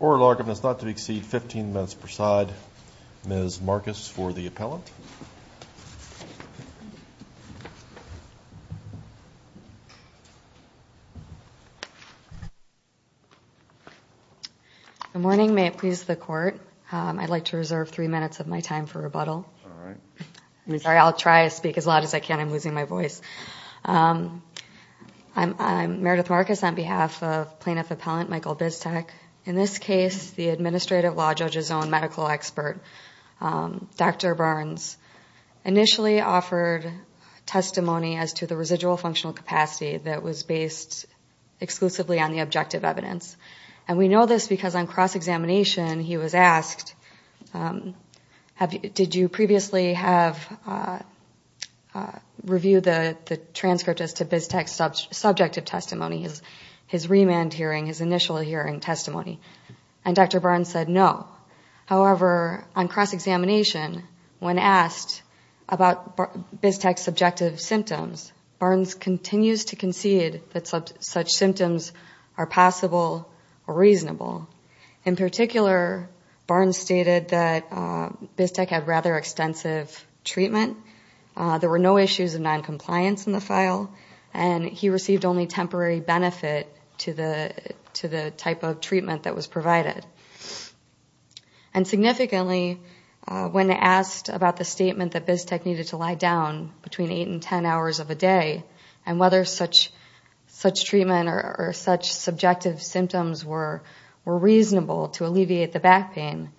Oral argument is not to exceed 15 minutes per side. Ms. Marcus for the appellant. Good morning. May it please the court. I'd like to reserve three minutes of my time for rebuttal. Sorry, I'll try to speak as loud as I can. I'm losing my voice. I'm Meredith Marcus on behalf of Plaintiff Appellant Michael Biestek. In this case, the administrative law judge's own medical expert, Dr. Burns, initially offered testimony as to the residual functional capacity that was based exclusively on the objective evidence. And we know this because on cross-examination, he was asked, did you previously have reviewed the transcript as to Biestek's subjective testimony, his remand hearing, his initial hearing testimony? And Dr. Burns said no. However, on cross-examination, when asked about Biestek's subjective symptoms, Burns continues to concede that such symptoms are possible or reasonable. In particular, Burns stated that Biestek had rather extensive treatment. There were no issues of noncompliance in the file, and he received only temporary benefit to the type of treatment that was provided. And significantly, when asked about the statement that Biestek needed to lie down between 8 and 10 hours of a day and whether such treatment or such subjective symptoms were reasonable to alleviate the back pain,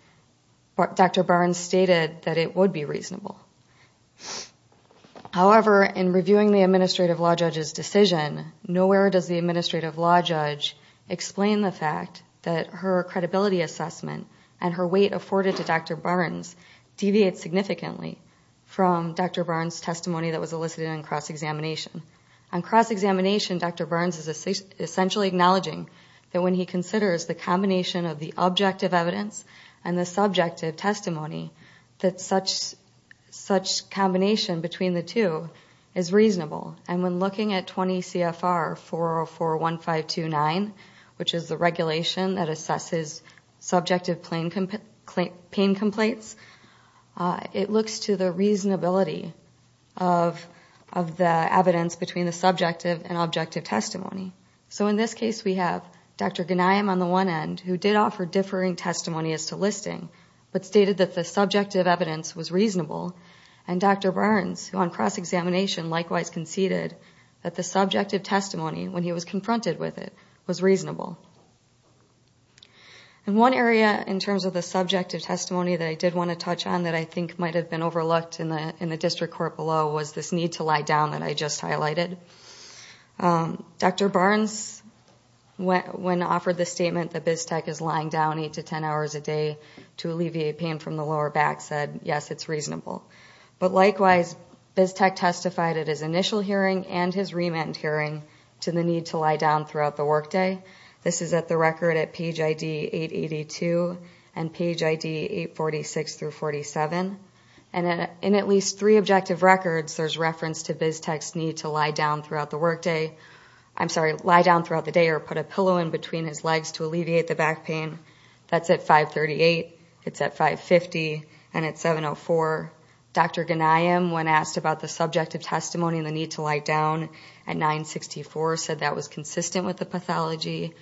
Dr. Burns stated that it would be reasonable. However, in reviewing the administrative law judge's decision, nowhere does the administrative law judge explain the fact that her credibility assessment and her weight afforded to Dr. Burns deviate significantly from Dr. Burns' testimony that was elicited on cross-examination. On cross-examination, Dr. Burns is essentially acknowledging that when he considers the combination of the objective evidence and the subjective testimony, that such combination between the two is reasonable. And when looking at 20 CFR 4041529, which is the regulation that assesses subjective pain complaints, it looks to the reasonability of the evidence between the subjective and objective testimony. So in this case, we have Dr. Gunayem on the one end, who did offer differing testimony as to listing, but stated that the subjective evidence was reasonable, and Dr. Burns, who on cross-examination likewise conceded that the subjective testimony, when he was confronted with it, was reasonable. And one area in terms of the subjective testimony that I did want to touch on that I think might have been overlooked in the district court below was this need to lie down that I just highlighted. Dr. Burns, when offered the statement that BizTech is lying down 8 to 10 hours a day to alleviate pain from the lower back, said, yes, it's reasonable. But likewise, BizTech testified at his initial hearing and his remand hearing to the need to lie down throughout the workday. This is at the record at page ID 882 and page ID 846 through 47. And in at least three objective records, there's reference to BizTech's need to lie down throughout the workday. I'm sorry, lie down throughout the day or put a pillow in between his legs to alleviate the back pain. That's at 538, it's at 550, and at 704. Dr. Ghanayem, when asked about the subjective testimony and the need to lie down at 964, said that was consistent with the pathology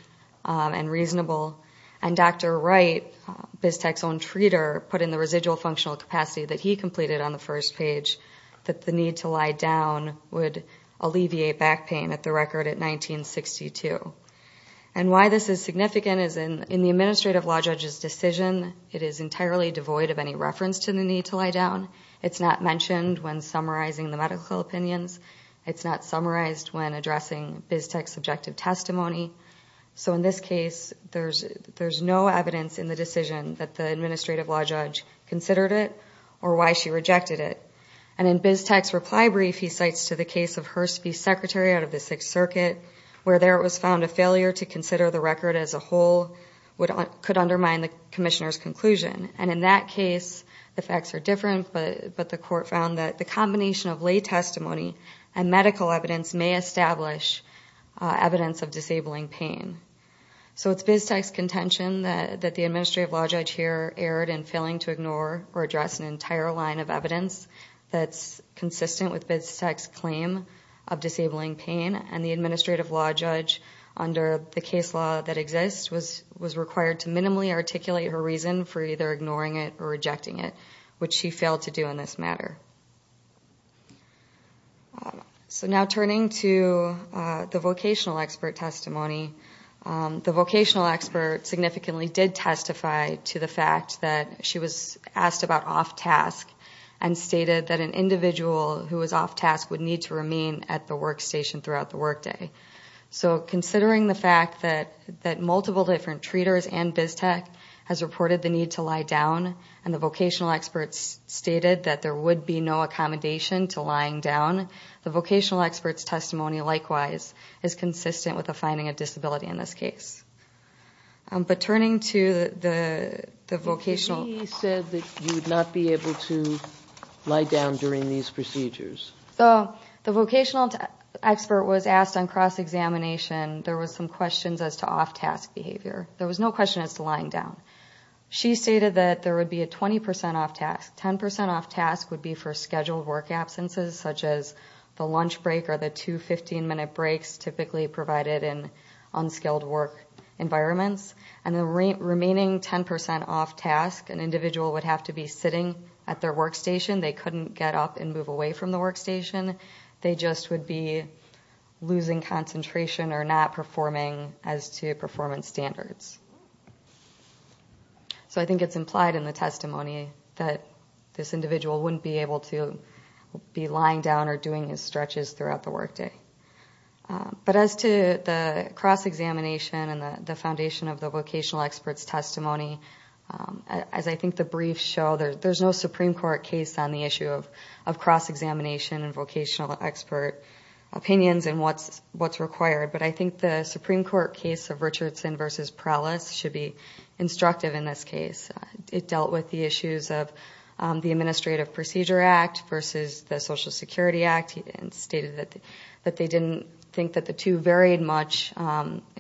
and reasonable. And Dr. Wright, BizTech's own treater, put in the residual functional capacity that he completed on the first page that the need to lie down would alleviate back pain at the record at 1962. And why this is significant is in the administrative law judge's decision, it is entirely devoid of any reference to the need to lie down. It's not mentioned when summarizing the medical opinions. It's not summarized when addressing BizTech's subjective testimony. So in this case, there's no evidence in the decision that the administrative law judge considered it or why she rejected it. And in BizTech's reply brief, he cites to the case of Hurst v. Secretary out of the Sixth Circuit, where there it was found a failure to consider the record as a whole could undermine the commissioner's conclusion. And in that case, the facts are different, but the court found that the combination of lay testimony and medical evidence may establish evidence of disabling pain. So it's BizTech's contention that the administrative law judge here erred in failing to ignore or address an entire line of evidence that's consistent with BizTech's claim of disabling pain. And the administrative law judge, under the case law that exists, was required to minimally articulate her reason for either ignoring it or rejecting it, which she failed to do in this matter. So now turning to the vocational expert testimony, the vocational expert significantly did testify to the fact that she was asked about off-task and stated that an individual who was off-task would need to remain at the workstation throughout the workday. So considering the fact that multiple different treaters and BizTech has reported the need to lie down, and the vocational expert stated that there would be no accommodation to lying down, the vocational expert's testimony, likewise, is consistent with the finding of disability in this case. But turning to the vocational expert testimony, So the vocational expert was asked on cross-examination, there was some questions as to off-task behavior. There was no question as to lying down. She stated that there would be a 20 percent off-task. 10 percent off-task would be for scheduled work absences, such as the lunch break or the two 15-minute breaks typically provided in unskilled work environments. And the remaining 10 percent off-task, an individual would have to be sitting at their workstation. They couldn't get up and move away from the workstation. They just would be losing concentration or not performing as to performance standards. So I think it's implied in the testimony that this individual wouldn't be able to be lying down or doing his stretches throughout the workday. But as to the cross-examination and the foundation of the vocational expert's testimony, as I think the briefs show, there's no Supreme Court case on the issue of cross-examination and vocational expert opinions and what's required. But I think the Supreme Court case of Richardson v. Prelis should be instructive in this case. It dealt with the issues of the Administrative Procedure Act versus the Social Security Act and stated that they didn't think that the two varied much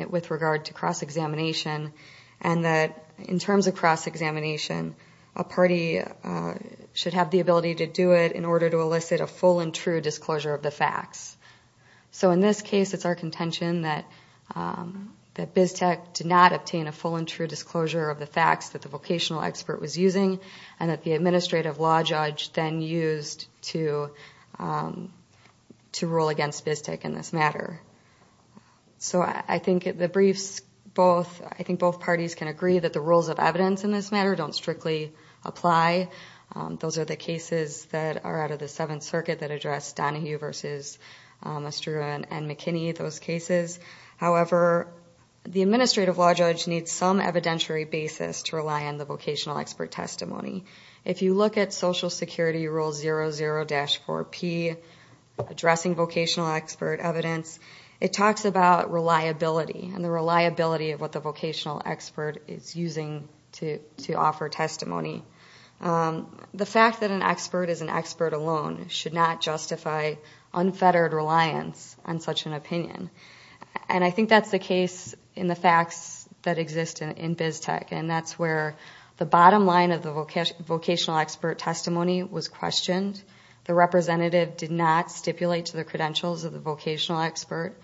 with regard to cross-examination and that in terms of cross-examination, a party should have the ability to do it in order to elicit a full and true disclosure of the facts. So in this case, it's our contention that BISTEC did not obtain a full and true disclosure of the facts that the vocational expert was using and that the administrative law judge then used to rule against BISTEC in this matter. So I think the briefs both parties can agree that the rules of evidence in this matter don't strictly apply. Those are the cases that are out of the Seventh Circuit that address Donahue v. Estrella and McKinney, those cases. However, the administrative law judge needs some evidentiary basis to rely on the vocational expert testimony. If you look at Social Security Rule 00-4P, Addressing Vocational Expert Evidence, it talks about reliability and the reliability of what the vocational expert is using to offer testimony. The fact that an expert is an expert alone should not justify unfettered reliance on such an opinion. And I think that's the case in the facts that exist in BISTEC and that's where the bottom line of the vocational expert testimony was questioned. The representative did not stipulate to the credentials of the vocational expert.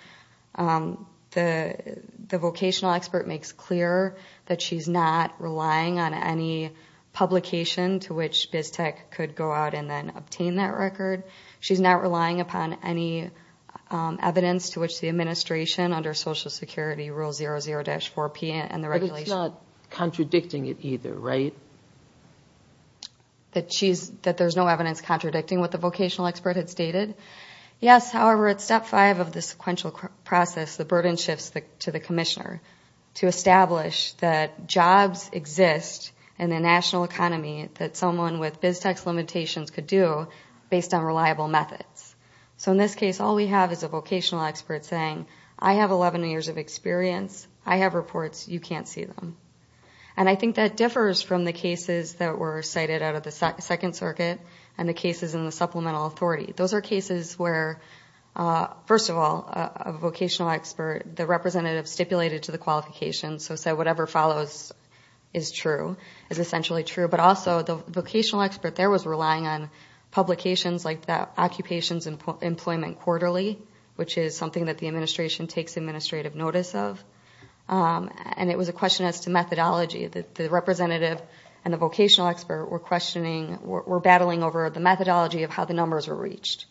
The vocational expert makes clear that she's not relying on any publication to which BISTEC could go out and then obtain that record. She's not relying upon any evidence to which the administration under Social Security Rule 00-4P and the regulations... But it's not contradicting it either, right? That there's no evidence contradicting what the vocational expert had stated. Yes, however, at Step 5 of the sequential process, the burden shifts to the commissioner to establish that jobs exist in the national economy that someone with BISTEC's limitations could do based on reliable methods. So in this case, all we have is a vocational expert saying, I have 11 years of experience, I have reports, you can't see them. And I think that differs from the cases that were cited out of the Second Circuit and the cases in the Supplemental Authority. Those are cases where, first of all, a vocational expert, the representative stipulated to the qualifications, so said whatever follows is true, is essentially true. But also the vocational expert there was relying on publications like the Occupations and Employment Quarterly, which is something that the administration takes administrative notice of. And it was a question as to methodology. The representative and the vocational expert were questioning, were battling over the methodology of how the numbers were reached.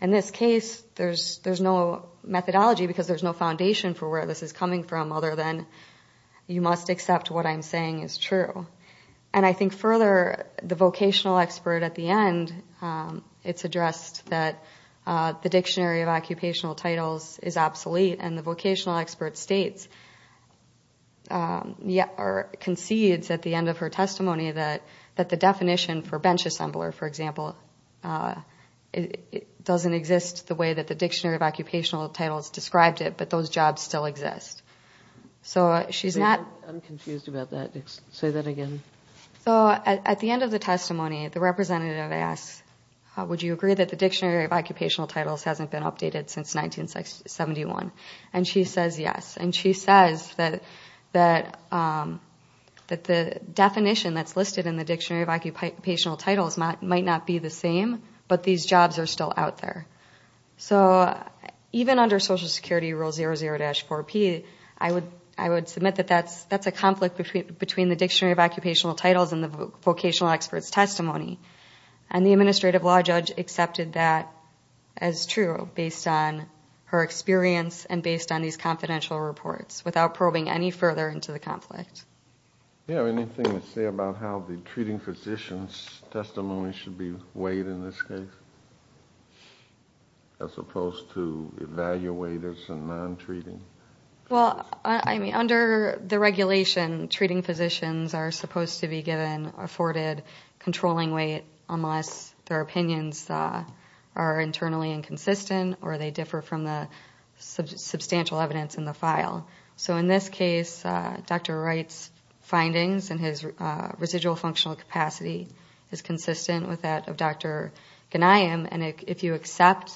In this case, there's no methodology because there's no foundation for where this is coming from other than you must accept what I'm saying is true. And I think further, the vocational expert at the end, it's addressed that the Dictionary of Occupational Titles is obsolete and the vocational expert states or concedes at the end of her testimony that the definition for bench assembler, for example, doesn't exist the way that the Dictionary of Occupational Titles described it, but those jobs still exist. So she's not... Say that again. So at the end of the testimony, the representative asks, would you agree that the Dictionary of Occupational Titles hasn't been updated since 1971? And she says yes. And she says that the definition that's listed in the Dictionary of Occupational Titles might not be the same, but these jobs are still out there. So even under Social Security Rule 00-4P, I would submit that that's a conflict between the Dictionary of Occupational Titles and the vocational expert's testimony. And the administrative law judge accepted that as true based on her experience and based on these confidential reports without probing any further into the conflict. Do you have anything to say about how the treating physician's testimony should be weighed in this case? As opposed to evaluators and non-treating? Well, I mean, under the regulation, treating physicians are supposed to be given afforded controlling weight unless their opinions are internally inconsistent or they differ from the substantial evidence in the file. So in this case, Dr. Wright's findings and his residual functional capacity is consistent with that of Dr. Ghanayem. And if you accept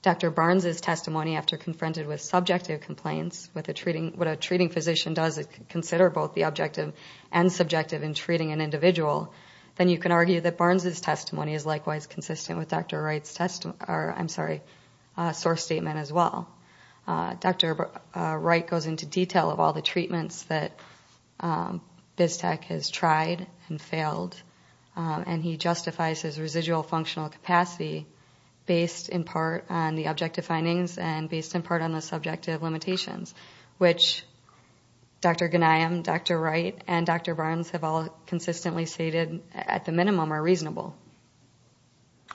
Dr. Barnes's testimony after confronted with subjective complaints, what a treating physician does is consider both the objective and subjective in treating an individual, then you can argue that Barnes's testimony is likewise consistent with Dr. Wright's source statement as well. Dr. Wright goes into detail of all the treatments that BizTech has tried and failed, and he justifies his residual functional capacity based in part on the objective findings and based in part on the subjective limitations, which Dr. Ghanayem, Dr. Wright, and Dr. Barnes have all consistently stated at the minimum are reasonable.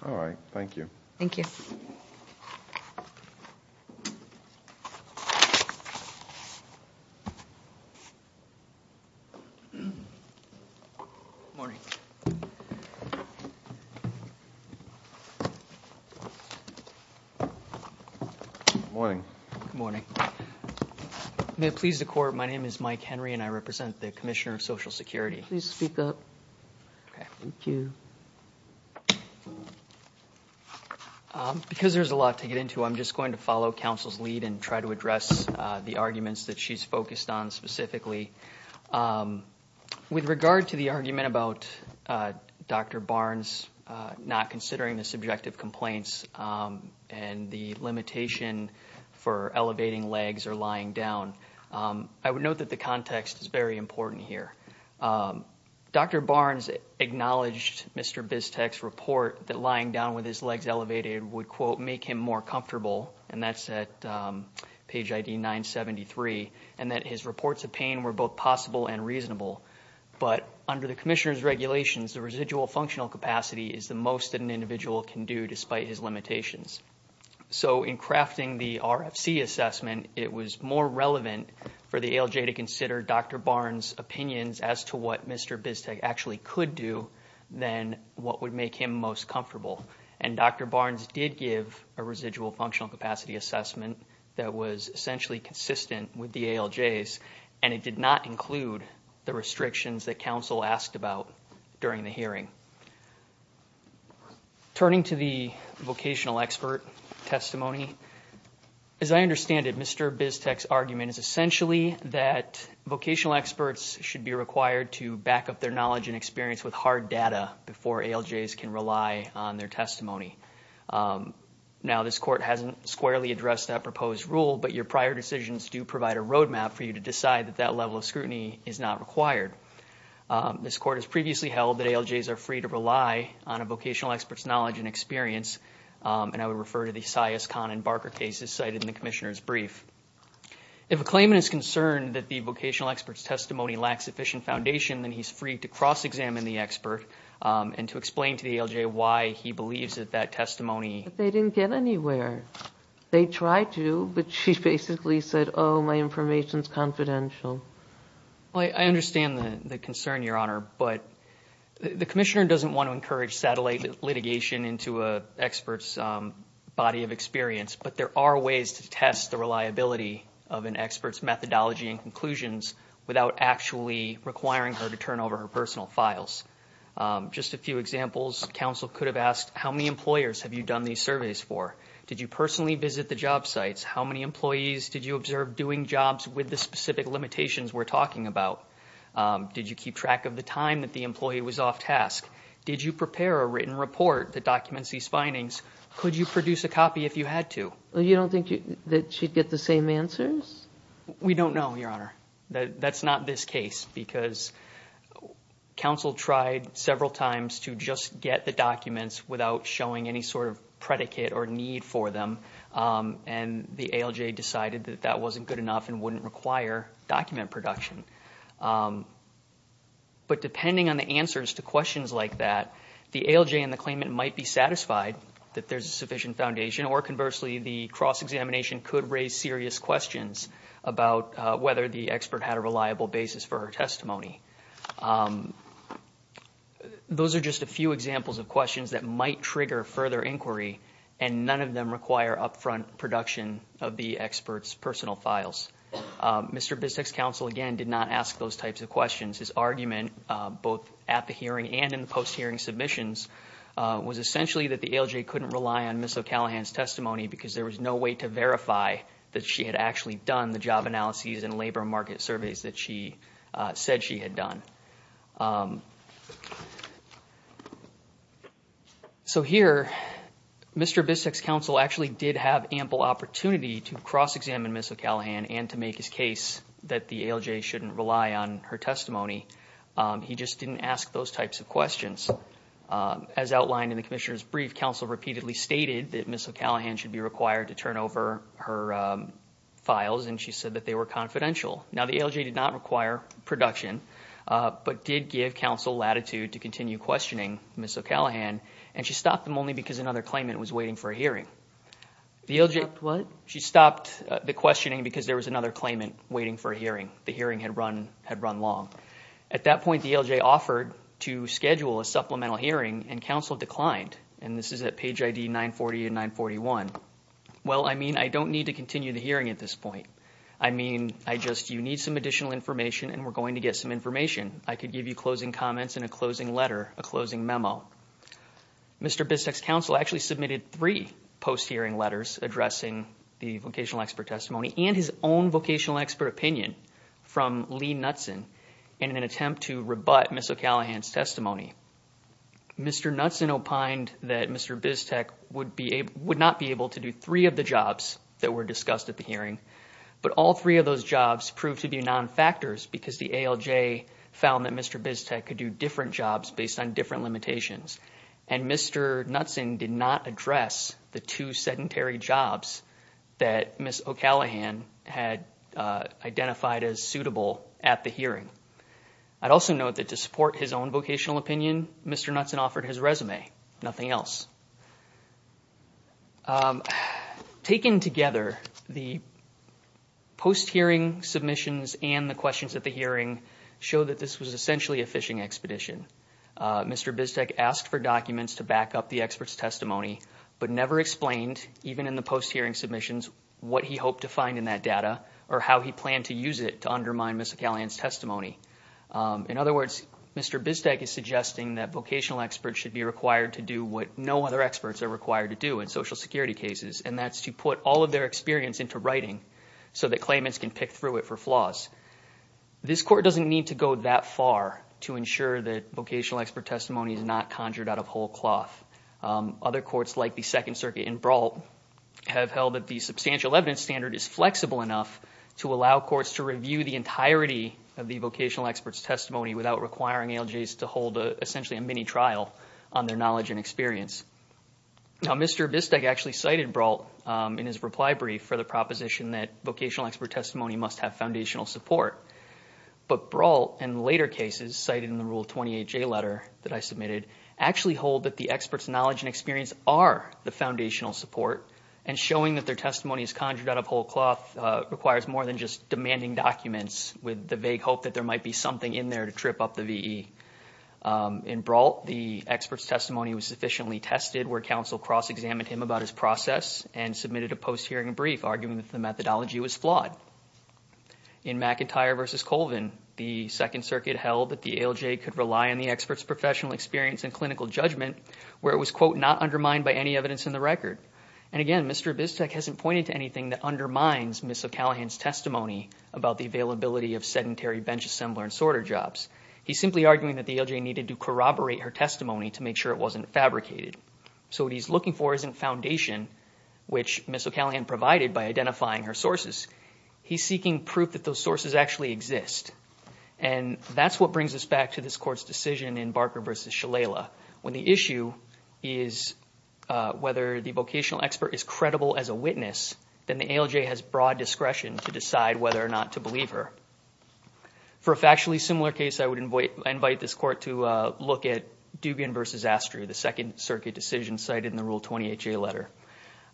All right. Thank you. May it please the Court, my name is Mike Henry and I represent the Commissioner of Social Security. Because there's a lot to get into, I'm just going to follow counsel's lead and try to address the arguments that she's focused on specifically. With regard to the argument about Dr. Barnes not considering the subjective complaints and the limitation for elevating legs or lying down, I would note that the context is very important here. Dr. Barnes acknowledged Mr. BizTech's report that lying down with his legs elevated would quote, make him more comfortable, and that's at page ID 973, and that his reports of pain were both possible and reasonable. But under the Commissioner's regulations, the residual functional capacity is the most that an individual can do despite his limitations. So in crafting the RFC assessment, it was more relevant for the ALJ to consider Dr. Barnes's opinions as to what Mr. BizTech actually could do than what would make him most comfortable. And Dr. Barnes did give a residual functional capacity assessment that was essentially consistent with the ALJ's, and it did not include the restrictions that counsel asked about during the hearing. Turning to the vocational expert testimony, as I understand it, Mr. BizTech's argument is essentially that vocational experts should be required to back up their knowledge and experience with hard data before ALJs can rely on their testimony. Now, this Court hasn't squarely addressed that proposed rule, but your prior decisions do provide a roadmap for you to decide that that level of scrutiny is not required. This Court has previously held that ALJs are free to rely on a vocational expert's knowledge and experience, and I would refer to the Sias, Kahn, and Barker cases cited in the Commissioner's brief. If a claimant is concerned that the vocational expert's testimony lacks sufficient foundation, then he's free to cross-examine the expert and to explain to the ALJ why he believes that that testimony... But they didn't get anywhere. They tried to, but she basically said, oh, my information's confidential. Well, I understand the concern, Your Honor, but the Commissioner doesn't want to encourage satellite litigation into an expert's body of experience, but there are ways to test the reliability of an expert's methodology and conclusions without actually requiring her to turn over her personal files. Just a few examples, counsel could have asked, how many employers have you done these surveys for? Did you personally visit the job sites? How many employees did you observe doing jobs with the specific limitations we're talking about? Did you keep track of the time that the employee was off task? Did you prepare a written report that documents these findings? Could you produce a copy if you had to? You don't think that she'd get the same answers? We don't know, Your Honor. That's not this case, because counsel tried several times to just get the documents without showing any sort of predicate or need for them, and the ALJ decided that that wasn't good enough and wouldn't require document production. But depending on the answers to questions like that, the ALJ and the claimant might be satisfied that there's a sufficient foundation, or conversely, the cross-examination could raise serious questions about whether the expert had a reliable basis for her testimony. Those are just a few examples of questions that might trigger further inquiry, and none of them require upfront production of the expert's personal files. Mr. Bistek's counsel, again, did not ask those types of questions. His argument, both at the hearing and in the post-hearing submissions, was essentially that the ALJ couldn't rely on Ms. O'Callaghan's testimony because there was no way to verify that she had actually done the job analyses and labor market surveys that she said she had done. So here, Mr. Bistek's counsel actually did have ample opportunity to cross-examine Ms. O'Callaghan and to make his case that the ALJ shouldn't rely on her testimony. He just didn't ask those types of questions. As outlined in the commissioner's brief, counsel repeatedly stated that Ms. O'Callaghan should be required to turn over her files, and she said that they were confidential. Now, the ALJ did not require production, but did give counsel latitude to continue questioning Ms. O'Callaghan, and she stopped them only because another claimant was waiting for a hearing. She stopped the questioning because there was another claimant waiting for a hearing. The hearing had run long. At that point, the ALJ offered to schedule a supplemental hearing, and counsel declined. And this is at page ID 940 and 941. Well, I mean, I don't need to continue the hearing at this point. I mean, I just, you need some additional information, and we're going to get some information. I could give you closing comments and a closing letter, a closing memo. Mr. Biztek's counsel actually submitted three post-hearing letters addressing the vocational expert testimony and his own vocational expert opinion from Lee Knutson in an attempt to rebut Ms. O'Callaghan's testimony. Mr. Knutson opined that Mr. Biztek would not be able to do three of the jobs that were discussed at the hearing, but all three of those jobs proved to be non-factors because the ALJ found that Mr. Biztek could do different jobs based on different limitations, and Mr. Knutson did not address the two sedentary jobs that Ms. O'Callaghan had identified as suitable at the hearing. I'd also note that to support his own vocational opinion, Mr. Knutson offered his resume, nothing else. Taken together, the post-hearing submissions and the questions at the hearing show that this was essentially a phishing expedition. Mr. Biztek asked for documents to back up the expert's testimony, but never explained, even in the post-hearing submissions, what he hoped to find in that data or how he planned to use it to undermine Ms. O'Callaghan's testimony. In other words, Mr. Biztek is suggesting that vocational experts should be required to do what no other experts are required to do in social security cases, and that's to put all of their experience into writing so that claimants can pick through it for flaws. This Court doesn't need to go that far to ensure that vocational expert testimony is not conjured out of whole cloth. Other courts, like the Second Circuit and Brault, have held that the substantial evidence standard is flexible enough to allow courts to review the entirety of the vocational expert's testimony without requiring ALJs to hold essentially a mini-trial on their knowledge and experience. Now, Mr. Biztek actually cited Brault in his reply brief for the proposition that vocational expert testimony must have foundational support, but Brault, in later cases, cited in the Rule 28J letter that I submitted, actually hold that the expert's knowledge and experience are the foundational support, and showing that their testimony is conjured out of whole cloth requires more than just demanding documents with the vague hope that there might be something in there to trip up the VE. In Brault, the expert's testimony was sufficiently tested where counsel cross-examined him about his process and submitted a post-hearing brief arguing that the methodology was flawed. In McIntyre v. Colvin, the Second Circuit held that the ALJ could rely on the expert's professional experience and clinical judgment where it was, quote, not undermined by any evidence in the record. And again, Mr. Biztek hasn't pointed to anything that undermines Ms. O'Callaghan's testimony about the availability of sedentary bench assembler and sorter jobs. He's simply arguing that the ALJ needed to corroborate her testimony to make sure it wasn't fabricated. So what he's looking for isn't foundation, which Ms. O'Callaghan provided by identifying her sources. He's seeking proof that those sources actually exist. And that's what brings us back to this Court's decision in Barker v. Shalala, when the issue is whether the vocational expert is credible as a witness, then the ALJ has broad discretion to decide whether or not to believe her. For a factually similar case, I would invite this Court to look at Duggan v. Astrew, the Second Circuit decision cited in the Rule 20HA letter.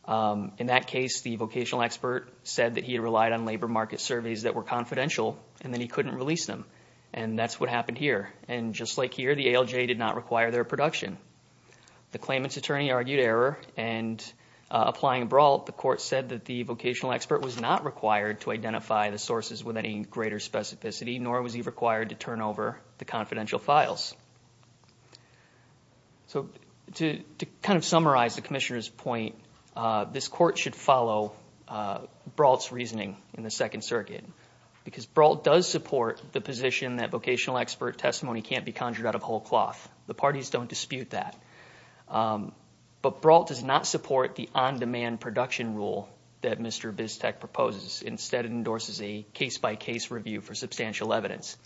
In that case, the vocational expert said that he had relied on labor market surveys that were confidential and that he couldn't release them, and that's what happened here. And just like here, the ALJ did not require their production. The claimant's attorney argued error, and applying broad, the Court said that the vocational expert was not required to identify the sources with any greater specificity, nor was he required to turn over the confidential files. So to kind of summarize the Commissioner's point, this Court should follow Brault's reasoning in the Second Circuit, because Brault does support the position that vocational expert testimony can't be conjured out of whole cloth. The parties don't dispute that. But Brault does not support the on-demand production rule that Mr. Biztek proposes. Instead, it endorses a case-by-case review for substantial evidence.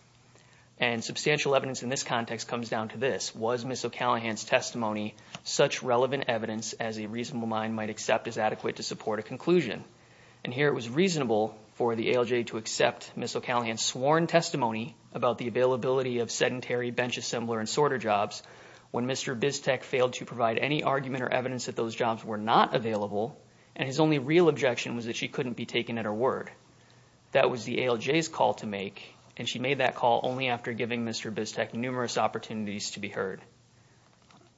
And substantial evidence in this context comes down to this. Was Ms. O'Callaghan's testimony such relevant evidence as a reasonable mind might accept as adequate to support a conclusion? And here it was reasonable for the ALJ to accept Ms. O'Callaghan's sworn testimony about the availability of sedentary bench assembler and sorter jobs when Mr. Biztek failed to provide any argument or evidence that those jobs were not available, and his only real objection was that she couldn't be taken at her word. That was the ALJ's call to make, and she made that call only after giving Mr. Biztek numerous opportunities to be heard.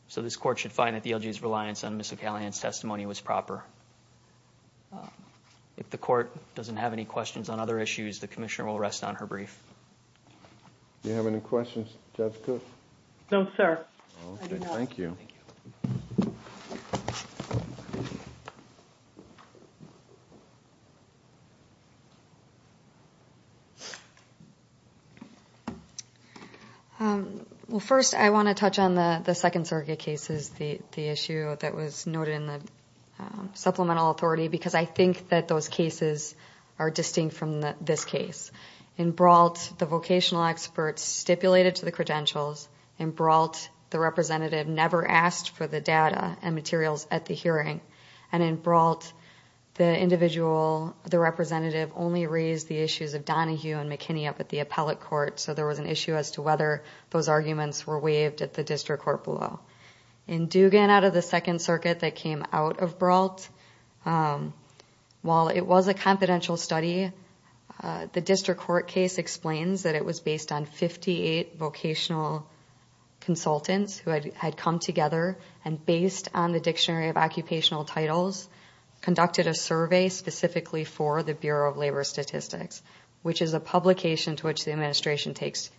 So this Court should find that the ALJ's reliance on Ms. O'Callaghan's testimony was proper. If the Court doesn't have any questions on other issues, the Commissioner will rest on her brief. Do you have any questions, Jessica? No, sir. Well, first, I want to touch on the second surrogate cases, the issue that was noted in the supplemental authority, because I think that those cases are distinct from this case. In Brault, the vocational experts stipulated to the credentials. In Brault, the representative never asked for the data and materials at the hearing. And in Brault, the individual, the representative only raised the issues of Donahue and McKinney up at the appellate court, so there was an issue as to whether those arguments were waived at the district court below. In Dugan, out of the second surrogate that came out of Brault, while it was a confidential study, the district court case explains that it was based on 58 vocational consultants who had come together and, based on the dictionary of occupational titles, conducted a survey specifically for the Bureau of Labor Statistics, which is a publication to which the administration takes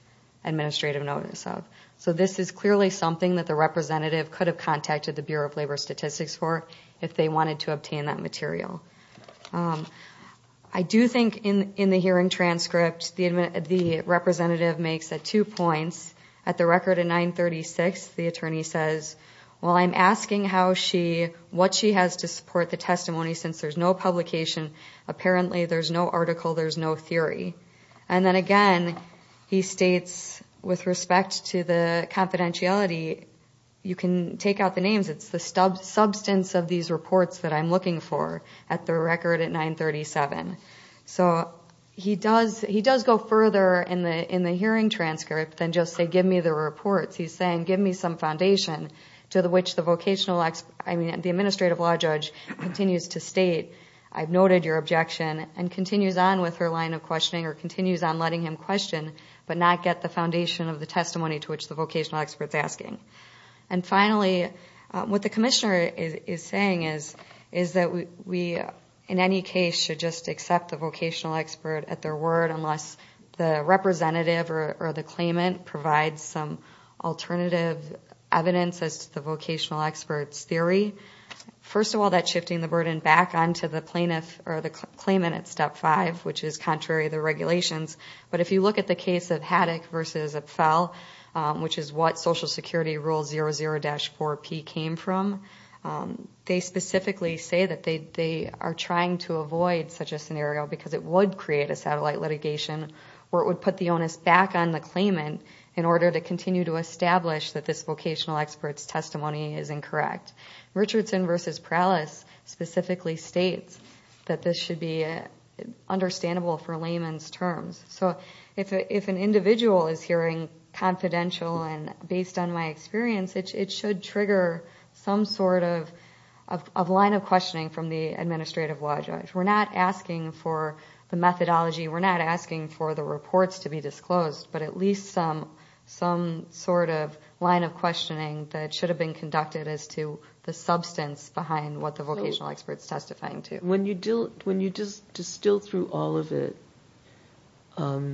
administrative notice of. So this is clearly something that the representative could have contacted the Bureau of Labor Statistics for, if they wanted to obtain that material. I do think, in the hearing transcript, the representative makes two points. At the record of 936, the attorney says, while I'm asking what she has to support the testimony, since there's no publication, apparently there's no article, there's no theory. And then again, he states, with respect to the confidentiality, you can take out the names, it's the substance of these reports that I'm looking for at the record at 937. So he does go further in the hearing transcript than just say, give me the reports. He's saying, give me some foundation to which the administrative law judge continues to state, I've noted your objection, and continues on with her line of questioning or continues on letting him question, but not get the foundation of the testimony to which the vocational expert's asking. And finally, what the commissioner is saying is that we, in any case, should just accept the vocational expert at their word, unless the representative or the claimant provides some alternative evidence. As to the vocational expert's theory, first of all, that's shifting the burden back onto the plaintiff or the claimant at step five, which is contrary to the regulations. But if you look at the case of Haddock v. Upfel, which is what Social Security Rule 00-4P came from, they specifically say that they are trying to avoid such a scenario, because it would create a satellite litigation where it would put the onus back on the claimant in order to continue to establish that this vocational expert's testimony is incorrect. Richardson v. Prowlis specifically states that this should be understandable for layman's terms. So if an individual is hearing confidential and based on my experience, it should trigger some sort of line of questioning from the administrative law judge. We're not asking for the methodology, we're not asking for the reports to be disclosed, but at least some sort of line of questioning that should have been conducted as to the substance behind what the vocational expert's testifying to. When you distill through all of it, are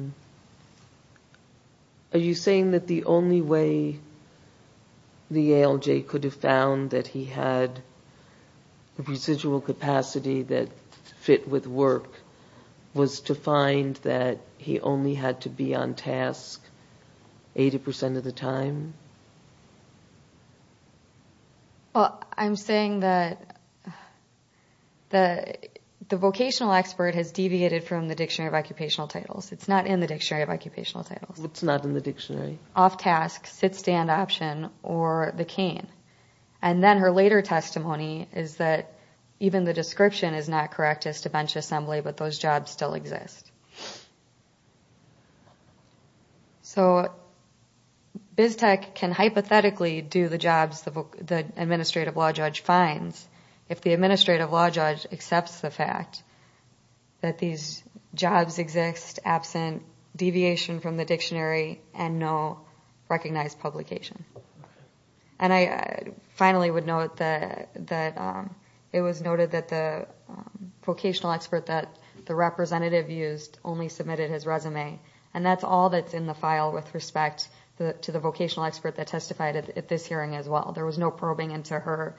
you saying that the only way the ALJ could have found that he had a residual capacity that fit with work was to find that he only had to be on task 80% of the time? Well, I'm saying that the vocational expert has deviated from the Dictionary of Occupational Titles. It's not in the Dictionary of Occupational Titles. It's not in the dictionary? Off-task, sit-stand option, or the cane. And then her later testimony is that even the description is not correct as to bench assembly, but those jobs still exist. So BizTech can hypothetically do the jobs the administrative law judge finds if the administrative law judge accepts the fact that these jobs exist absent deviation from the dictionary and no recognized publication. I finally would note that it was noted that the vocational expert that the representative used only submitted his resume, and that's all that's in the file with respect to the vocational expert that testified at this hearing as well. There was no probing into her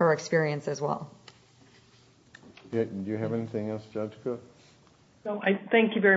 experience as well. Do you have anything else, Judge Cook? No, thank you very much.